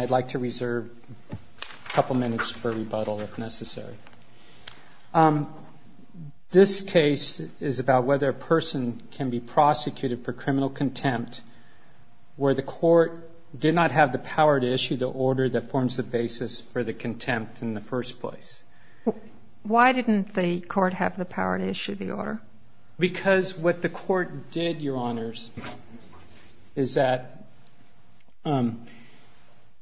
I'd like to reserve a couple of minutes for rebuttal if necessary. This case is about whether a person can be prosecuted for criminal contempt where the court did not have the power to issue the order that forms the basis for the conviction of the defendant. Why didn't the court have the power to issue the order? Because what the court did, Your Honors, is that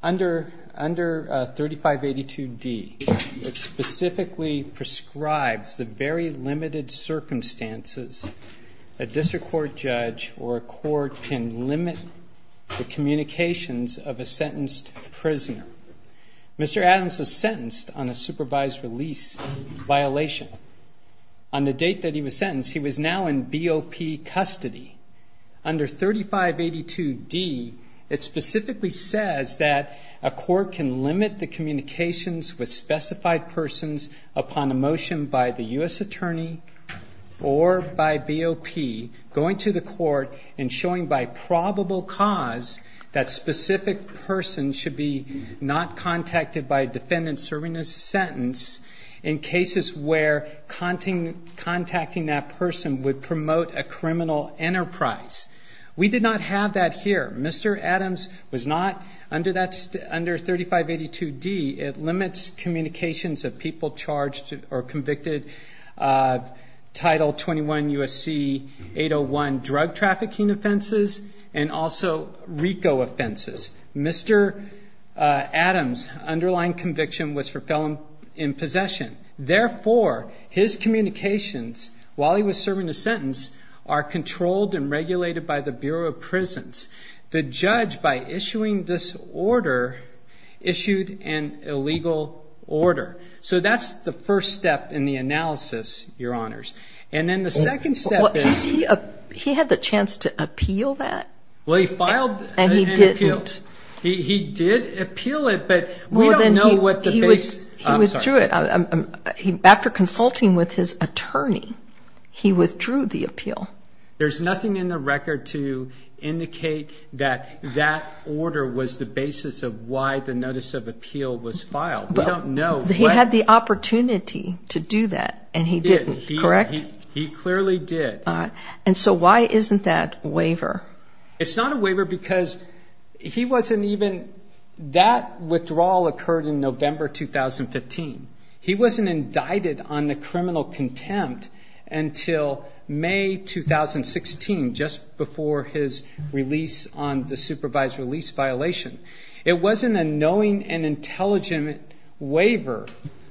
under 3582D, it specifically prescribes the very limited circumstances a district court judge or a court can limit the communications of a sentenced prisoner. Mr. Adams was sentenced on a supervised release violation. On the date that he was sentenced, he was now in BOP custody. Under 3582D, it specifically says that a court can limit the communications with specified persons upon a motion by the U.S. attorney or by BOP going to the court and showing by probable cause that specific person should be not contacted by a defendant serving a sentence. In cases where contacting that person would promote a criminal enterprise. We did not have that here. Mr. Adams was not under 3582D. It limits communications of people charged or convicted of Title 21 U.S.C. 801 drug trafficking offenses and also RICO offenses. Mr. Adams' underlying conviction was for felon in possession. Therefore, his communications while he was serving a sentence are controlled and regulated by the Bureau of Prisons. The judge, by issuing this order, issued an illegal order. So that's the first step in the analysis, Your Honors. He had the chance to appeal that? Well, he filed an appeal. He did appeal it, but we don't know what the basis. He withdrew it. After consulting with his attorney, he withdrew the appeal. There's nothing in the record to indicate that that order was the basis of why the notice of appeal was filed. We don't know. He had the opportunity to do that and he didn't, correct? He clearly did. And so why isn't that a waiver? It's not a waiver because he wasn't even, that withdrawal occurred in November 2015. He wasn't indicted on the criminal contempt until May 2016, just before his release on the supervised release violation. It wasn't a knowing and intelligent waiver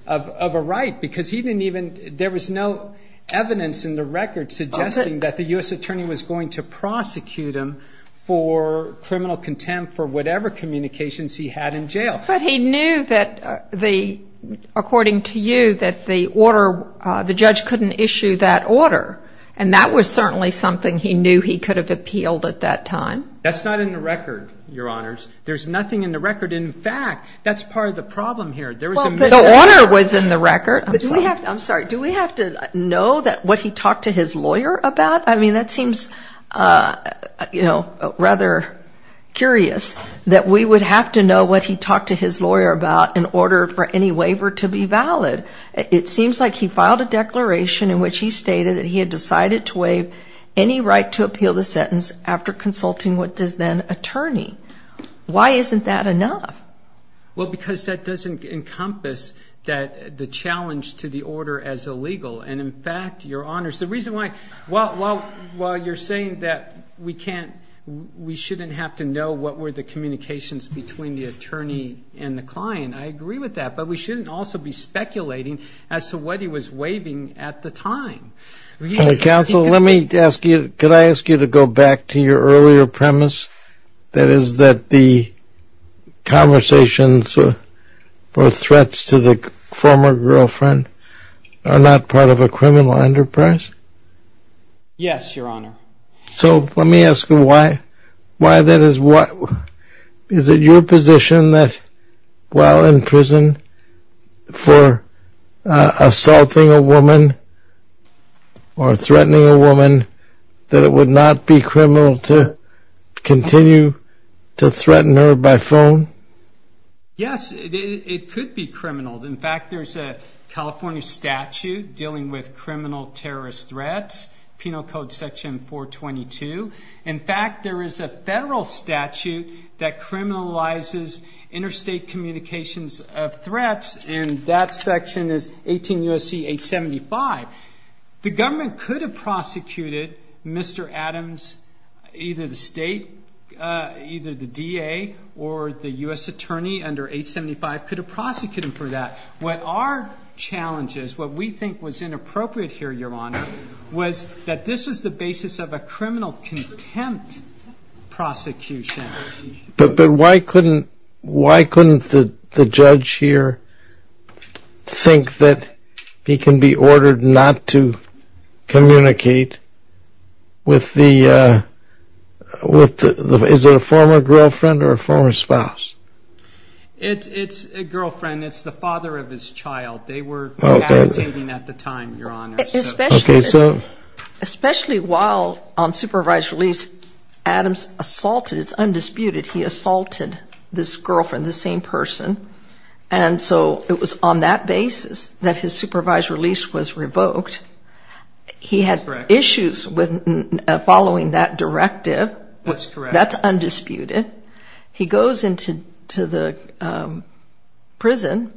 of a right because he didn't even, there was no evidence in the record suggesting that the U.S. attorney was going to prosecute him for criminal contempt for whatever communications he had in jail. But he knew that the, according to you, that the order, the judge couldn't issue that order. And that was certainly something he knew he could have appealed at that time. That's not in the record, Your Honors. There's nothing in the record. In fact, that's part of the problem here. The order was in the record. I'm sorry. Do we have to know that what he talked to his lawyer about? I mean, that seems, you know, rather curious that we would have to know what he talked to his lawyer about in order for any waiver to be valid. It seems like he filed a declaration in which he stated that he had decided to waive any right to appeal the sentence after consulting with his then attorney. Why isn't that enough? Well, because that doesn't encompass that, the challenge to the order as illegal. And in fact, Your Honors, the reason why, while you're saying that we can't, we shouldn't have to know what were the communications between the attorney and the client, I agree with that. But we shouldn't also be speculating as to what he was waiving at the time. Counsel, let me ask you, could I ask you to go back to your earlier premise that is that the conversations or threats to the former girlfriend are not part of a criminal enterprise? Yes, Your Honor. So let me ask you why. Is it your position that while in prison for assaulting a woman or threatening a woman that it would not be criminal to continue to threaten her by phone? Yes, it could be criminal. In fact, there's a California statute dealing with criminal terrorist threats, Penal Code Section 422. In fact, there is a federal statute that criminalizes interstate communications of threats, and that section is 18 U.S.C. 875. The government could have prosecuted Mr. Adams, either the state, either the DA or the U.S. attorney under 875 could have prosecuted him for that. What our challenge is, what we think was inappropriate here, Your Honor, was that this was the basis of a criminal contempt prosecution. But why couldn't the judge here think that he can be ordered not to communicate with the, is it a former girlfriend or a former spouse? It's a girlfriend. It's the father of his child. They were entertaining at the time, Your Honor. Especially while on supervised release, Adams assaulted, it's undisputed, he assaulted this girlfriend, this same person. And so it was on that basis that his supervised release was revoked. He had issues with following that directive. That's undisputed. He goes into the prison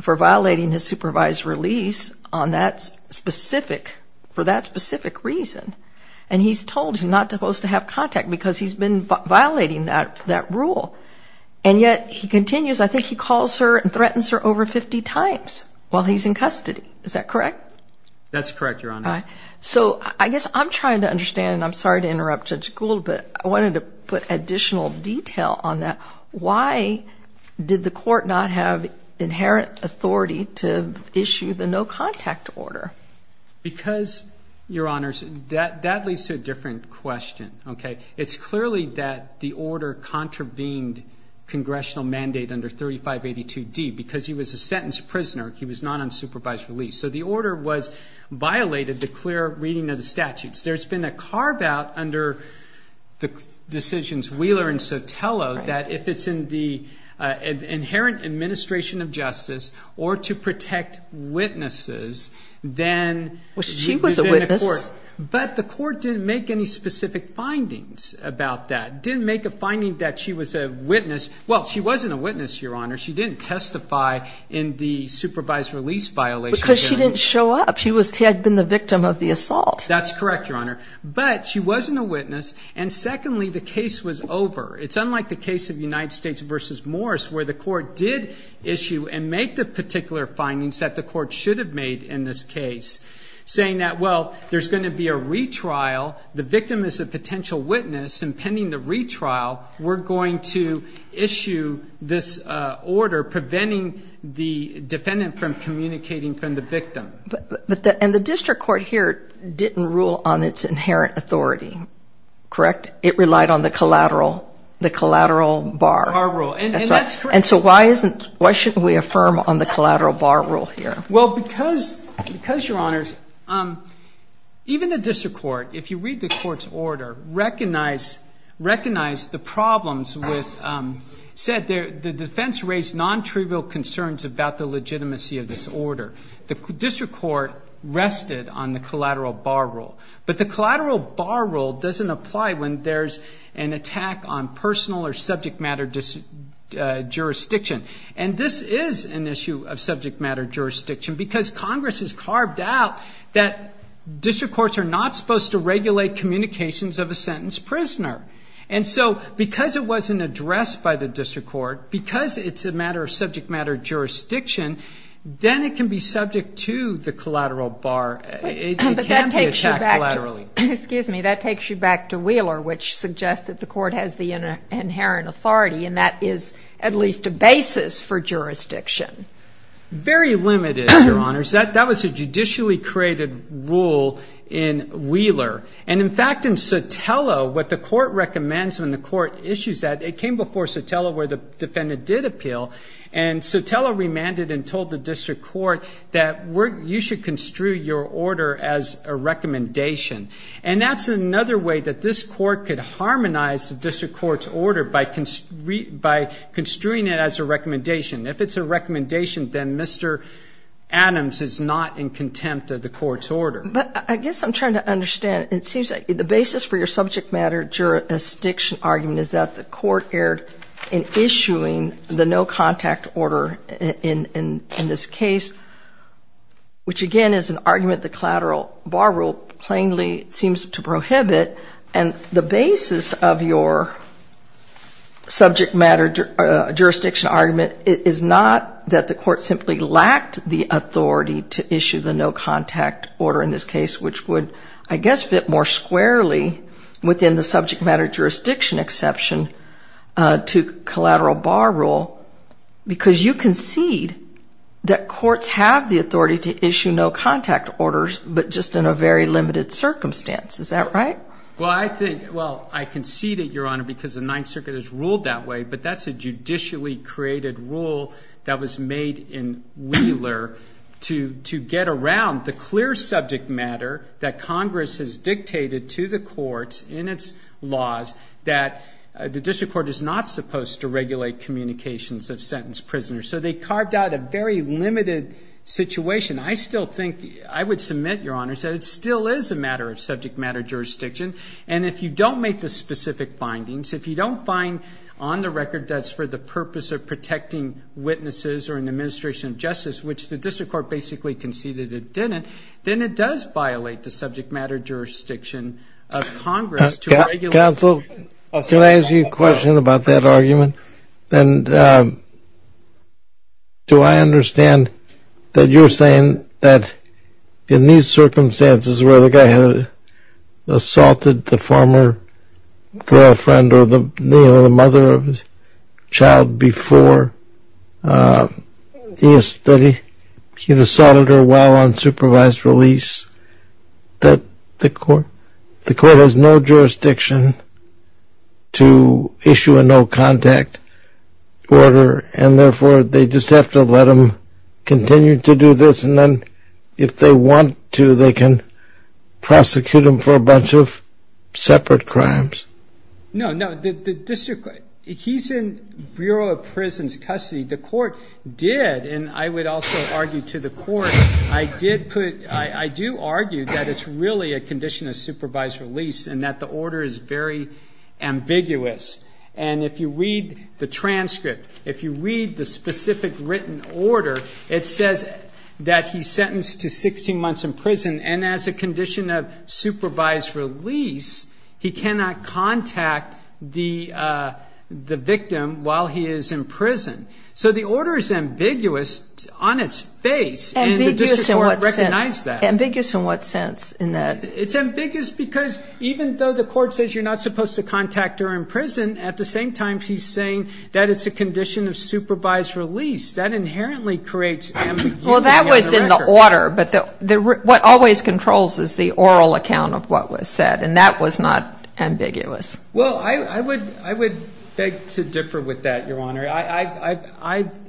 for violating his supervised release on that specific, for that specific reason. And he's told he's not supposed to have contact because he's been violating that rule. And yet he continues, I think he calls her and threatens her over 50 times while he's in custody. Is that correct? That's correct, Your Honor. So I guess I'm trying to understand, and I'm sorry to interrupt Judge Gould, but I wanted to put additional detail on that. Why did the court not have inherent authority to issue the no contact order? Because, Your Honors, that leads to a different question, okay? It's clearly that the order contravened congressional mandate under 3582D because he was a sentenced prisoner. He was not on supervised release. So the order violated the clear reading of the statutes. There's been a carve out under the decisions Wheeler and Sotelo that if it's in the inherent administration of justice or to protect witnesses, then you've been in court. Well, she was a witness. But the court didn't make any specific findings about that, didn't make a finding that she was a witness. Well, she wasn't a witness, Your Honor. She didn't testify in the supervised release violation. Because she didn't show up. She had been the victim of the assault. That's correct, Your Honor. But she wasn't a witness. And secondly, the case was over. It's unlike the case of United States v. Morris where the court did issue and make the particular findings that the court should have made in this case, saying that, well, there's going to be a retrial. The victim is a potential witness. But the court did issue a particular ruling that said, well, if the defendant is a potential witness, impending the retrial, we're going to issue this order preventing the defendant from communicating from the victim. And the district court here didn't rule on its inherent authority, correct? It relied on the collateral, the collateral bar. Bar rule. That's right. And that's correct. Why shouldn't we affirm on the collateral bar rule here? Well, because, Your Honors, even the district court, if you read the court's order, recognized the problems with said the defense raised non-trivial concerns about the legitimacy of this order. The district court rested on the collateral bar rule. But the collateral bar rule doesn't apply when there's an attack on personal or subject matter jurisdiction. And this is an issue of subject matter jurisdiction, because Congress has carved out that district courts are not supposed to regulate communications of a sentence prisoner. And so because it wasn't addressed by the district court, because it's a matter of subject matter jurisdiction, then it can be subject to the collateral bar. But that takes you back to Wheeler, which suggests that the court has the inherent authority, and that is at least a basis for jurisdiction. Very limited, Your Honors. That was a judicially created rule in Wheeler. And, in fact, in Sotelo, what the court recommends when the court issues that, it came before Sotelo where the defendant did appeal, and Sotelo remanded and told the district court that you should construe your order as a recommendation. And that's another way that this court could harmonize the district court's order by construing it as a recommendation. If it's a recommendation, then Mr. Adams is not in contempt of the court's order. But I guess I'm trying to understand. The basis for your subject matter jurisdiction argument is that the court erred in issuing the no-contact order in this case, which, again, is an argument the collateral bar rule plainly seems to prohibit. And the basis of your subject matter jurisdiction argument is not that the court simply lacked the authority to issue the no-contact order in this case, which would, I guess, fit more squarely within the subject matter jurisdiction exception to collateral bar rule, because you concede that courts have the authority to issue no-contact orders, but just in a very limited circumstance. Is that right? Well, I concede it, Your Honor, because the Ninth Circuit has ruled that way. But that's a judicially created rule that was made in Wheeler to get around the clear subject matter that Congress has dictated to the courts in its laws that the district court is not supposed to regulate communications of sentenced prisoners. So they carved out a very limited situation. I still think I would submit, Your Honor, that it still is a matter of subject matter jurisdiction. And if you don't make the specific findings, if you don't find on the record that it's for the purpose of protecting witnesses or an administration of justice, which the district court basically conceded it didn't, then it does violate the subject matter jurisdiction of Congress to regulate. Counsel, can I ask you a question about that argument? And do I understand that you're saying that in these circumstances where the guy had assaulted the former girlfriend or the mother of his child before, that he had assaulted her while on supervised release, that the court has no jurisdiction to issue a no-contact order, and therefore they just have to let him continue to do this? And then if they want to, they can prosecute him for a bunch of separate crimes? No, no. The district court, he's in Bureau of Prison's custody. The court did, and I would also argue to the court, I do argue that it's really a condition of supervised release and that the order is very ambiguous. And if you read the transcript, if you read the specific written order, it says that he's sentenced to 16 months in prison, and as a condition of supervised release, he cannot contact the victim while he is in prison. So the order is ambiguous on its face. And the district court recognized that. Ambiguous in what sense in that? It's ambiguous because even though the court says you're not supposed to contact her in prison, at the same time she's saying that it's a condition of supervised release. That inherently creates ambiguity on the record. Well, that was in the order, but what always controls is the oral account of what was said, and that was not ambiguous. Well, I would beg to differ with that, Your Honor.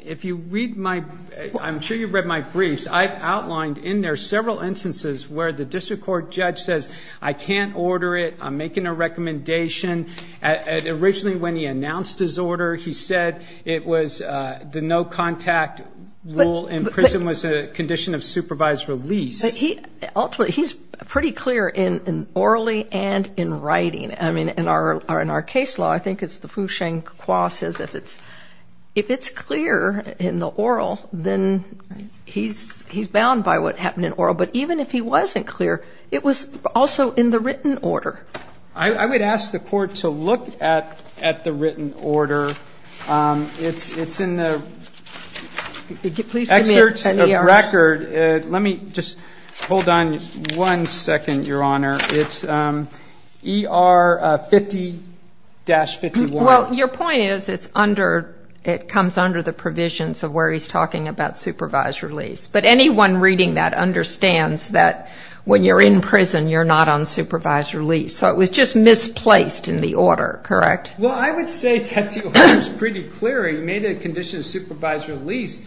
If you read my ‑‑ I'm sure you've read my briefs. I've outlined in there several instances where the district court judge says, I can't order it, I'm making a recommendation. Originally when he announced his order, he said it was the no contact rule in prison was a condition of supervised release. Ultimately, he's pretty clear in orally and in writing. I mean, in our case law, I think it's the Foucheng Qua says if it's clear in the oral, then he's bound by what happened in oral. But even if he wasn't clear, it was also in the written order. I would ask the court to look at the written order. It's in the excerpts of record. Let me just hold on one second, Your Honor. It's ER 50-51. Well, your point is it comes under the provisions of where he's talking about supervised release. But anyone reading that understands that when you're in prison, you're not on supervised release. So it was just misplaced in the order, correct? Well, I would say that the order is pretty clear. He made a condition of supervised release.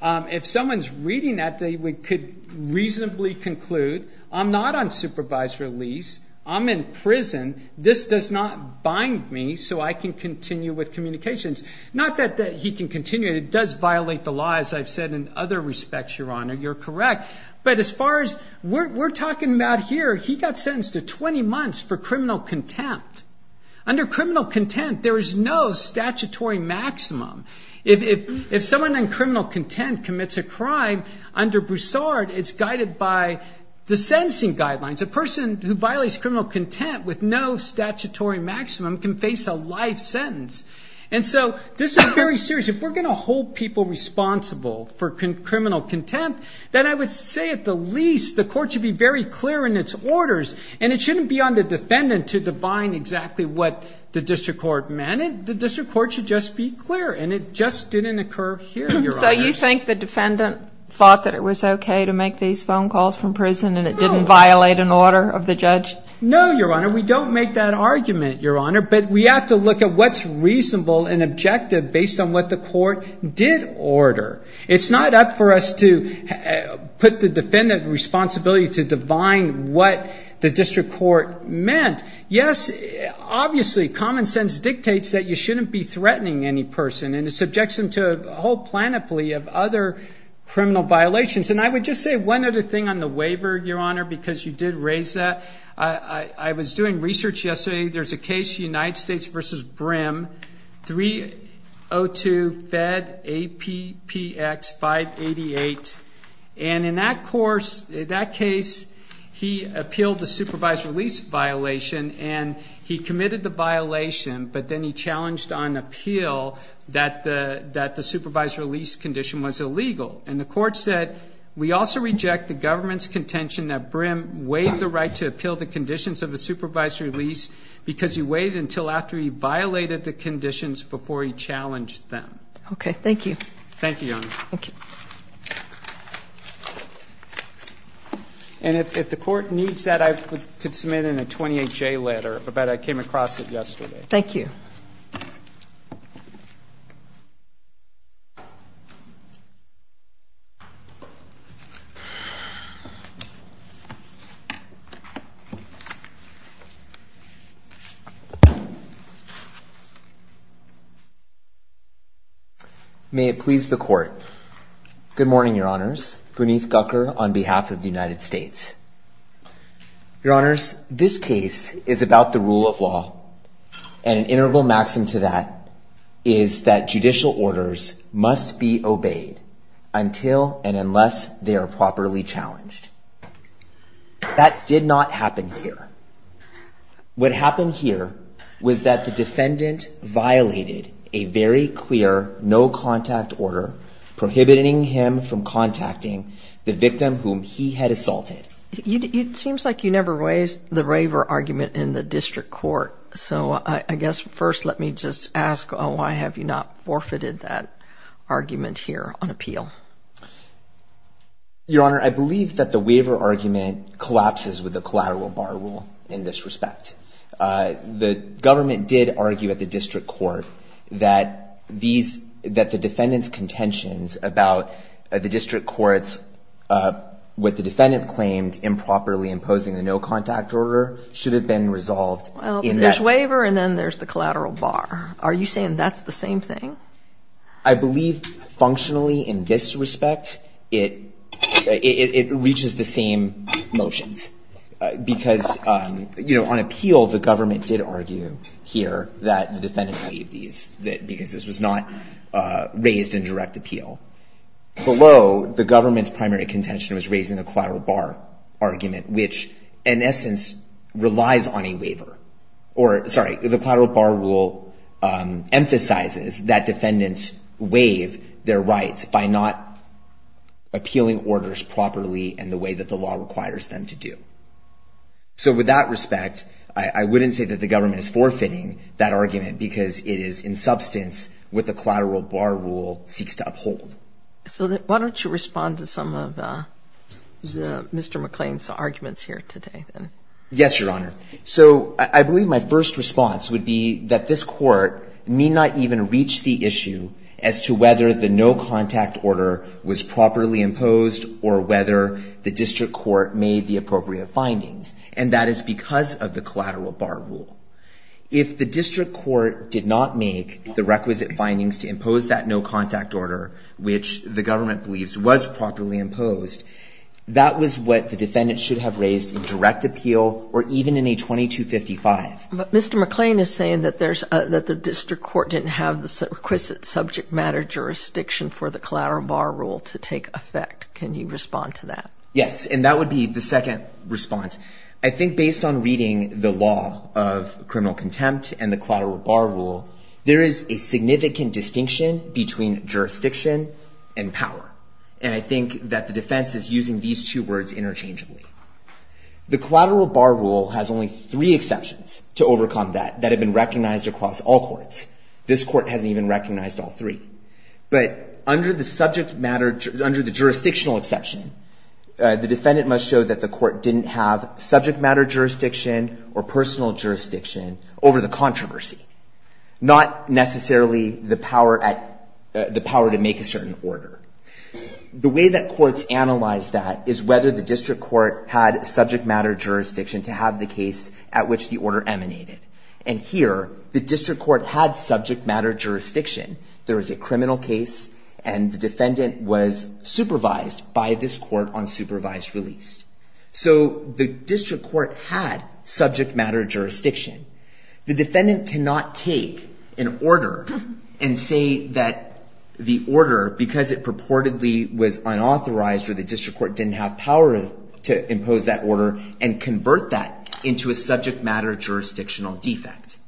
If someone's reading that, they could reasonably conclude, I'm not on supervised release. I'm in prison. This does not bind me so I can continue with communications. Not that he can continue. It does violate the law, as I've said in other respects, Your Honor. You're correct. But as far as we're talking about here, he got sentenced to 20 months for criminal contempt. Under criminal contempt, there is no statutory maximum. If someone in criminal contempt commits a crime, under Broussard, it's guided by the sentencing guidelines. A person who violates criminal contempt with no statutory maximum can face a life sentence. And so this is very serious. If we're going to hold people responsible for criminal contempt, then I would say at the least the court should be very clear in its orders. And it shouldn't be on the defendant to define exactly what the district court meant. The district court should just be clear. And it just didn't occur here, Your Honor. So you think the defendant thought that it was okay to make these phone calls from prison and it didn't violate an order of the judge? No, Your Honor. We don't make that argument, Your Honor. But we have to look at what's reasonable and objective based on what the court did order. It's not up for us to put the defendant in responsibility to define what the district court meant. Yes, obviously, common sense dictates that you shouldn't be threatening any person. And it subjects them to a whole plenipotentiary of other criminal violations. And I would just say one other thing on the waiver, Your Honor, because you did raise that. I was doing research yesterday. There's a case, United States v. Brim, 302 Fed APPX 588. And in that case, he appealed the supervised release violation, and he committed the violation, but then he challenged on appeal that the supervised release condition was illegal. And the court said, We also reject the government's contention that Brim waived the right to appeal the conditions of the supervised release because he waited until after he violated the conditions before he challenged them. Okay, thank you. Thank you, Your Honor. Thank you. And if the court needs that, I could submit in a 28J letter, but I came across it yesterday. Thank you. May it please the Court. Good morning, Your Honors. Buneeth Gukkar on behalf of the United States. Your Honors, this case is about the rule of law. And an integral maxim to that is that judicial orders must be obeyed until and unless they are properly challenged. That did not happen here. What happened here was that the defendant violated a very clear no-contact order, prohibiting him from contacting the victim whom he had assaulted. It seems like you never raised the waiver argument in the district court. So I guess first let me just ask, why have you not forfeited that argument here on appeal? Your Honor, I believe that the waiver argument collapses with the collateral bar rule in this respect. The government did argue at the district court that the defendant's contentions about the district court's, what the defendant claimed, improperly imposing the no-contact order should have been resolved in that. Well, there's waiver and then there's the collateral bar. Are you saying that's the same thing? I believe functionally in this respect, it reaches the same motions. Because, you know, on appeal, the government did argue here that the defendant made these, because this was not raised in direct appeal. Below, the government's primary contention was raising the collateral bar argument, which in essence relies on a waiver. Sorry, the collateral bar rule emphasizes that defendants waive their rights by not appealing orders properly in the way that the law requires them to do. So with that respect, I wouldn't say that the government is forfeiting that argument because it is in substance what the collateral bar rule seeks to uphold. So why don't you respond to some of Mr. McClain's arguments here today? Yes, Your Honor. So I believe my first response would be that this Court need not even reach the issue as to whether the no-contact order was properly imposed or whether the district court made the appropriate findings. And that is because of the collateral bar rule. If the district court did not make the requisite findings to impose that no-contact order, which the government believes was properly imposed, that was what the defendant should have raised in direct appeal or even in a 2255. But Mr. McClain is saying that the district court didn't have the requisite subject matter jurisdiction for the collateral bar rule to take effect. Can you respond to that? Yes, and that would be the second response. I think based on reading the law of criminal contempt and the collateral bar rule, there is a significant distinction between jurisdiction and power. And I think that the defense is using these two words interchangeably. The collateral bar rule has only three exceptions to overcome that that have been recognized across all courts. This court hasn't even recognized all three. But under the jurisdictional exception, the defendant must show that the court didn't have subject matter jurisdiction or personal jurisdiction over the controversy, not necessarily the power to make a certain order. The way that courts analyze that is whether the district court had subject matter jurisdiction to have the case at which the order emanated. And here, the district court had subject matter jurisdiction. There was a criminal case, and the defendant was supervised by this court on supervised release. So the district court had subject matter jurisdiction. The defendant cannot take an order and say that the order, because it purportedly was unauthorized or the district court didn't have power to impose that order, and convert that into a subject matter jurisdictional defect.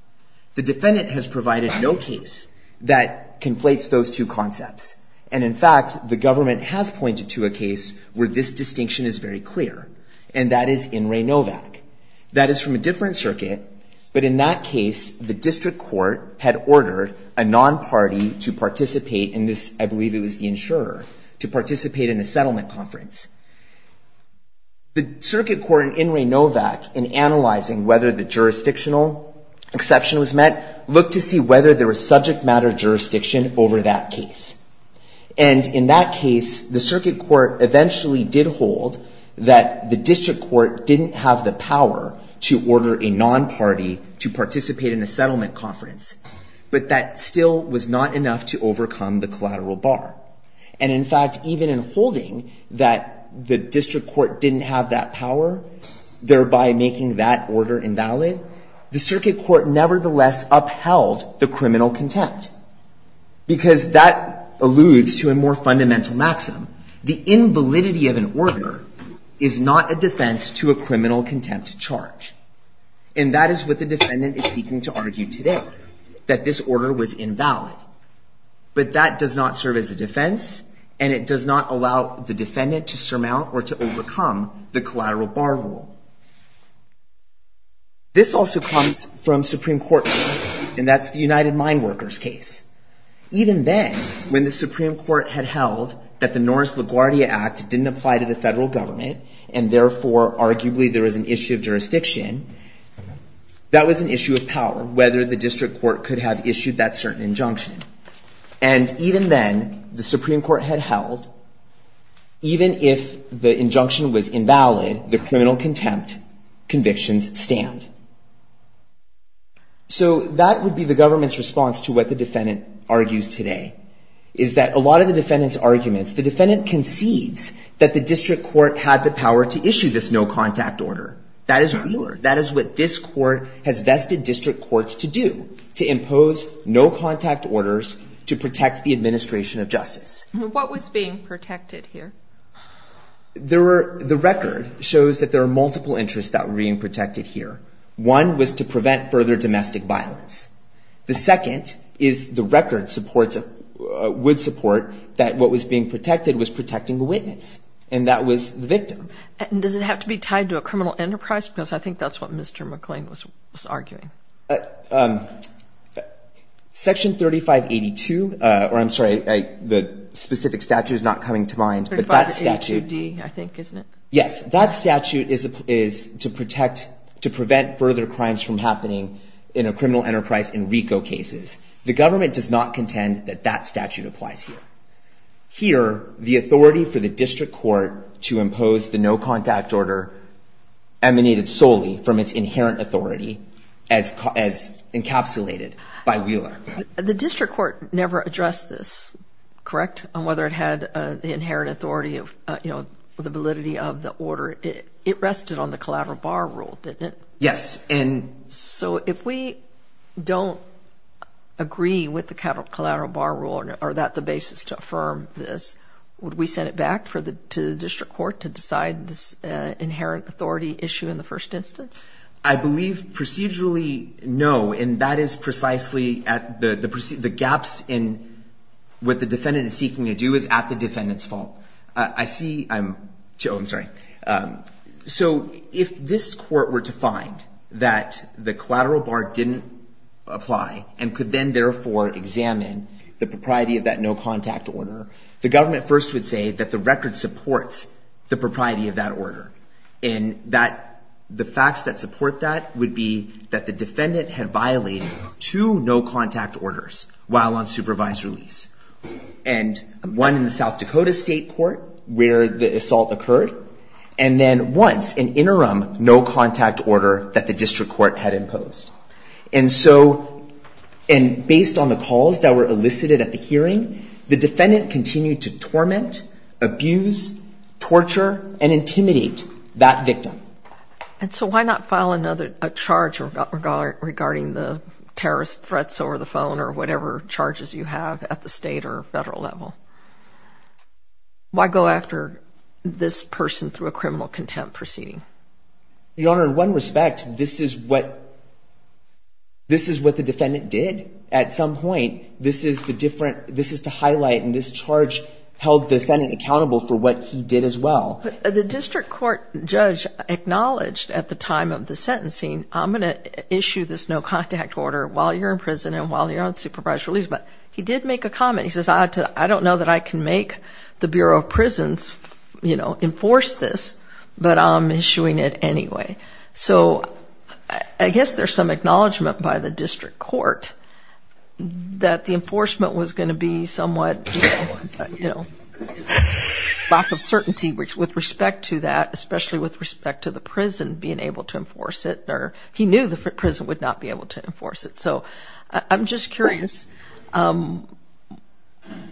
The defendant has provided no case that conflates those two concepts. And in fact, the government has pointed to a case where this distinction is very clear, and that is in Raynovac. That is from a different circuit, but in that case, the district court had ordered a non-party to participate in this, I believe it was the insurer, to participate in a settlement conference. The circuit court in Raynovac, in analyzing whether the jurisdictional exception was met, looked to see whether there was subject matter jurisdiction over that case. And in that case, the circuit court eventually did hold that the district court didn't have the power to order a non-party to participate in a settlement conference. But that still was not enough to overcome the collateral bar. And in fact, even in holding that the district court didn't have that power, thereby making that order invalid, the circuit court nevertheless upheld the criminal contempt, because that alludes to a more fundamental maxim. The invalidity of an order is not a defense to a criminal contempt charge. And that is what the defendant is seeking to argue today, that this order was invalid. But that does not serve as a defense, and it does not allow the defendant to surmount or to overcome the collateral bar rule. This also comes from Supreme Court, and that's the United Mine Workers case. Even then, when the Supreme Court had held that the Norris LaGuardia Act didn't apply to the Federal Government, and therefore, arguably, there was an issue of jurisdiction, that was an issue of power, whether the district court could have issued that certain injunction. And even then, the Supreme Court had held, even if the injunction was invalid, the criminal contempt convictions stand. So that would be the government's response to what the defendant argues today, is that a lot of the defendant's arguments, the defendant concedes that the district court had the power to issue this no-contact order. That is real. That is what this court has vested district courts to do, to impose no-contact orders to protect the administration of justice. What was being protected here? The record shows that there are multiple interests that were being protected here. One was to prevent further domestic violence. The second is the record supports, would support that what was being protected was protecting the witness, and that was the victim. And does it have to be tied to a criminal enterprise? Because I think that's what Mr. McClain was arguing. Section 3582, or I'm sorry, the specific statute is not coming to mind. 3582D, I think, isn't it? Yes. That statute is to protect, to prevent further crimes from happening in a criminal enterprise in RICO cases. The government does not contend that that statute applies here. Here, the authority for the district court to impose the no-contact order emanated solely from its inherent authority as encapsulated by Wheeler. The district court never addressed this, correct? On whether it had the inherent authority of, you know, the validity of the order. It rested on the collateral bar rule, didn't it? Yes. So if we don't agree with the collateral bar rule, are that the basis to affirm this? Would we send it back to the district court to decide this inherent authority issue in the first instance? I believe procedurally, no. And that is precisely at the gaps in what the defendant is seeking to do is at the defendant's fault. I see, I'm, oh, I'm sorry. So if this court were to find that the collateral bar didn't apply and could then therefore examine the propriety of that no-contact order, the government first would say that the record supports the propriety of that order. And that the facts that support that would be that the defendant had violated two no-contact orders while on supervised release. And one in the South Dakota State Court where the assault occurred, and then once in interim, no-contact order that the district court had imposed. And so, and based on the calls that were elicited at the hearing, the defendant continued to torment, abuse, torture, and intimidate that victim. And so why not file another, a charge regarding the terrorist threats over the phone or whatever charges you have at the state or federal level? Why go after this person through a criminal contempt proceeding? Your Honor, in one respect, this is what, this is what the defendant did. At some point, this is the different, this is to highlight, and this charge held the defendant accountable for what he did as well. The district court judge acknowledged at the time of the sentencing, I'm going to issue this no-contact order while you're in prison and while you're on supervised release, but he did make a comment. He says, I don't know that I can make the Bureau of Prisons, you know, enforce this, but I'm issuing it anyway. So I guess there's some acknowledgement by the district court that the enforcement was going to be somewhat, you know, lack of certainty with respect to that, especially with respect to the prison being able to enforce it. He knew the prison would not be able to enforce it. So I'm just curious,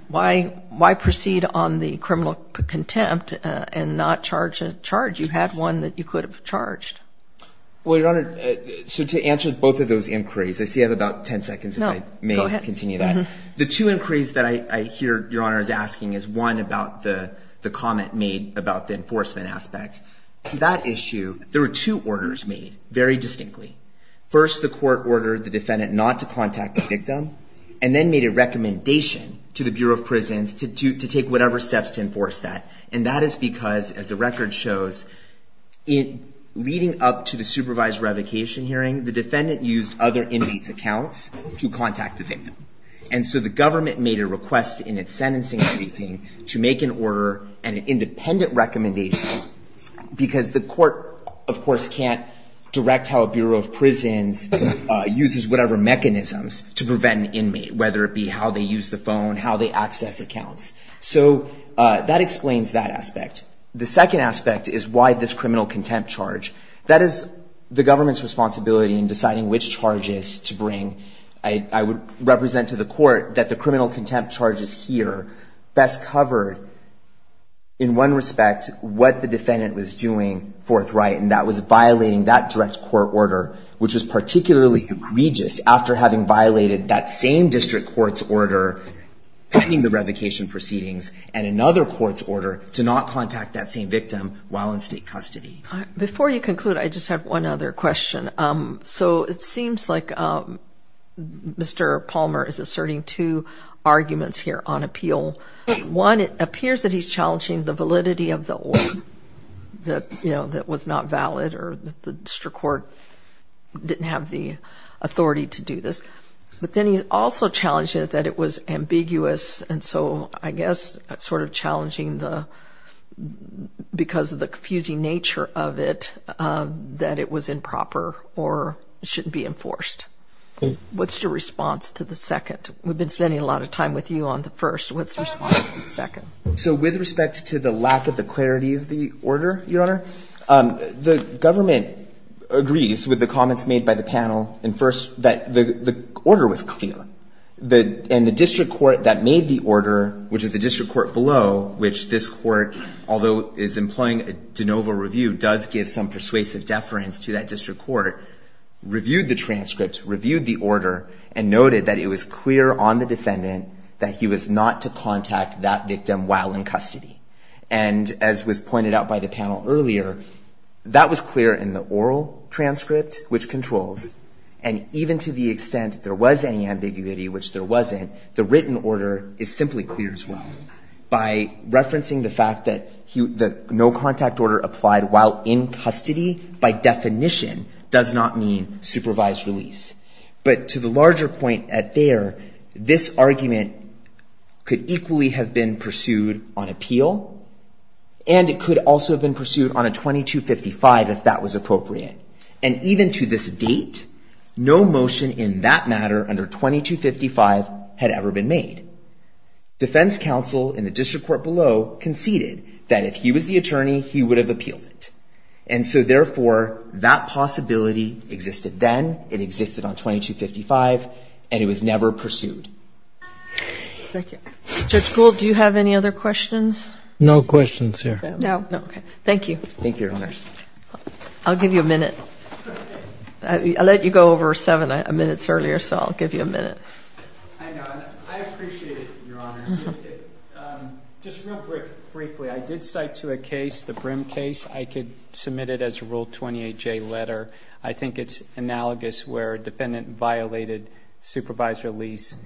why proceed on the criminal contempt and not charge a charge? You had one that you could have charged. Well, Your Honor, so to answer both of those inquiries, I see I have about ten seconds if I may continue that. The two inquiries that I hear Your Honor is asking is, one, about the comment made about the enforcement aspect. To that issue, there were two orders made, very distinctly. First, the court ordered the defendant not to contact the victim and then made a recommendation to the Bureau of Prisons to take whatever steps to enforce that, and that is because, as the record shows, leading up to the supervised revocation hearing, the defendant used other inmates' accounts to contact the victim. And so the government made a request in its sentencing briefing to make an order and an independent recommendation because the court, of course, can't direct how a Bureau of Prisons uses whatever mechanisms to prevent an inmate, whether it be how they use the phone, how they access accounts. So that explains that aspect. The second aspect is why this criminal contempt charge. That is the government's responsibility in deciding which charges to bring. I would represent to the court that the criminal contempt charges here best covered, in one respect, what the defendant was doing forthright, and that was violating that direct court order, which was particularly egregious after having violated that same district court's order pending the revocation proceedings and another court's order to not contact that same victim while in state custody. Before you conclude, I just have one other question. So it seems like Mr. Palmer is asserting two arguments here on appeal. One, it appears that he's challenging the validity of the order that was not valid or that the district court didn't have the authority to do this. But then he's also challenging it that it was ambiguous, and so I guess sort of challenging because of the confusing nature of it, that it was improper or shouldn't be enforced. What's your response to the second? We've been spending a lot of time with you on the first. What's your response to the second? So with respect to the lack of the clarity of the order, Your Honor, the government agrees with the comments made by the panel, and first, that the order was clear. And the district court that made the order, which is the district court below, which this court, although is employing a de novo review, does give some persuasive deference to that district court, reviewed the transcript, reviewed the order, and noted that it was clear on the defendant that he was not to contact that victim while in custody. And as was pointed out by the panel earlier, that was clear in the oral transcript, which controls, and even to the extent there was any ambiguity, which there wasn't, the written order is simply clear as well. By referencing the fact that no contact order applied while in custody, by definition, does not mean supervised release. But to the larger point there, this argument could equally have been pursued on appeal, and it could also have been pursued on a 2255 if that was appropriate. And even to this date, no motion in that matter under 2255 had ever been made. Defense counsel in the district court below conceded that if he was the attorney, he would have appealed it. And so therefore, that possibility existed then, it existed on 2255, and it was never pursued. Thank you. Judge Gould, do you have any other questions? No questions here. Okay. Thank you. Thank you, Your Honors. I'll give you a minute. I let you go over seven minutes earlier, so I'll give you a minute. I know. I appreciate it, Your Honors. Just real briefly, I did cite to a case, the Brim case. I could submit it as a Rule 28J letter. I think it's analogous where a defendant violated supervised release,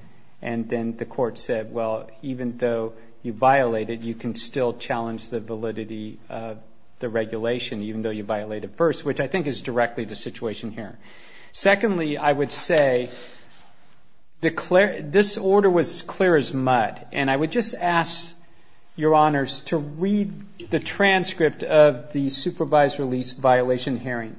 and then the court said, well, even though you violated, you can still challenge the validity of the regulation, even though you violated first, which I think is directly the situation here. Secondly, I would say this order was clear as mud, and I would just ask Your Honors to read the transcript of the supervised release violation hearing.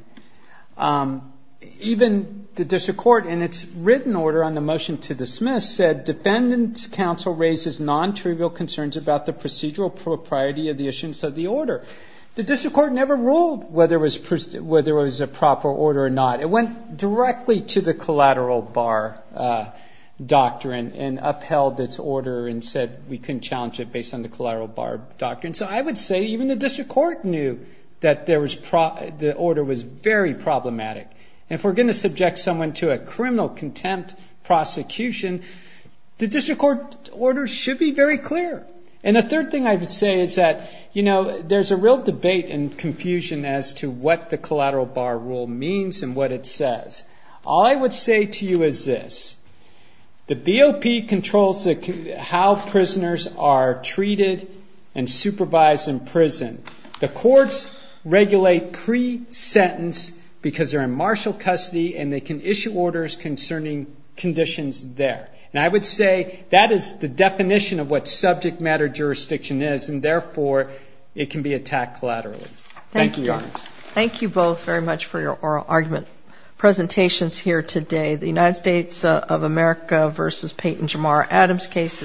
Even the district court, in its written order on the motion to dismiss, said, Defendant's counsel raises non-trivial concerns about the procedural propriety of the issuance of the order. The district court never ruled whether it was a proper order or not. It went directly to the collateral bar doctrine and upheld its order and said we couldn't challenge it based on the collateral bar doctrine. So I would say even the district court knew that the order was very problematic. If we're going to subject someone to a criminal contempt prosecution, the district court order should be very clear. The third thing I would say is that there's a real debate and confusion as to what the collateral bar rule means and what it says. All I would say to you is this. The BOP controls how prisoners are treated and supervised in prison. The courts regulate pre-sentence because they're in martial custody and they can issue orders concerning conditions there. And I would say that is the definition of what subject matter jurisdiction is and, therefore, it can be attacked collaterally. Thank you, Your Honors. Thank you both very much for your oral argument presentations here today. The United States of America v. Peyton, Jamar, Adams cases.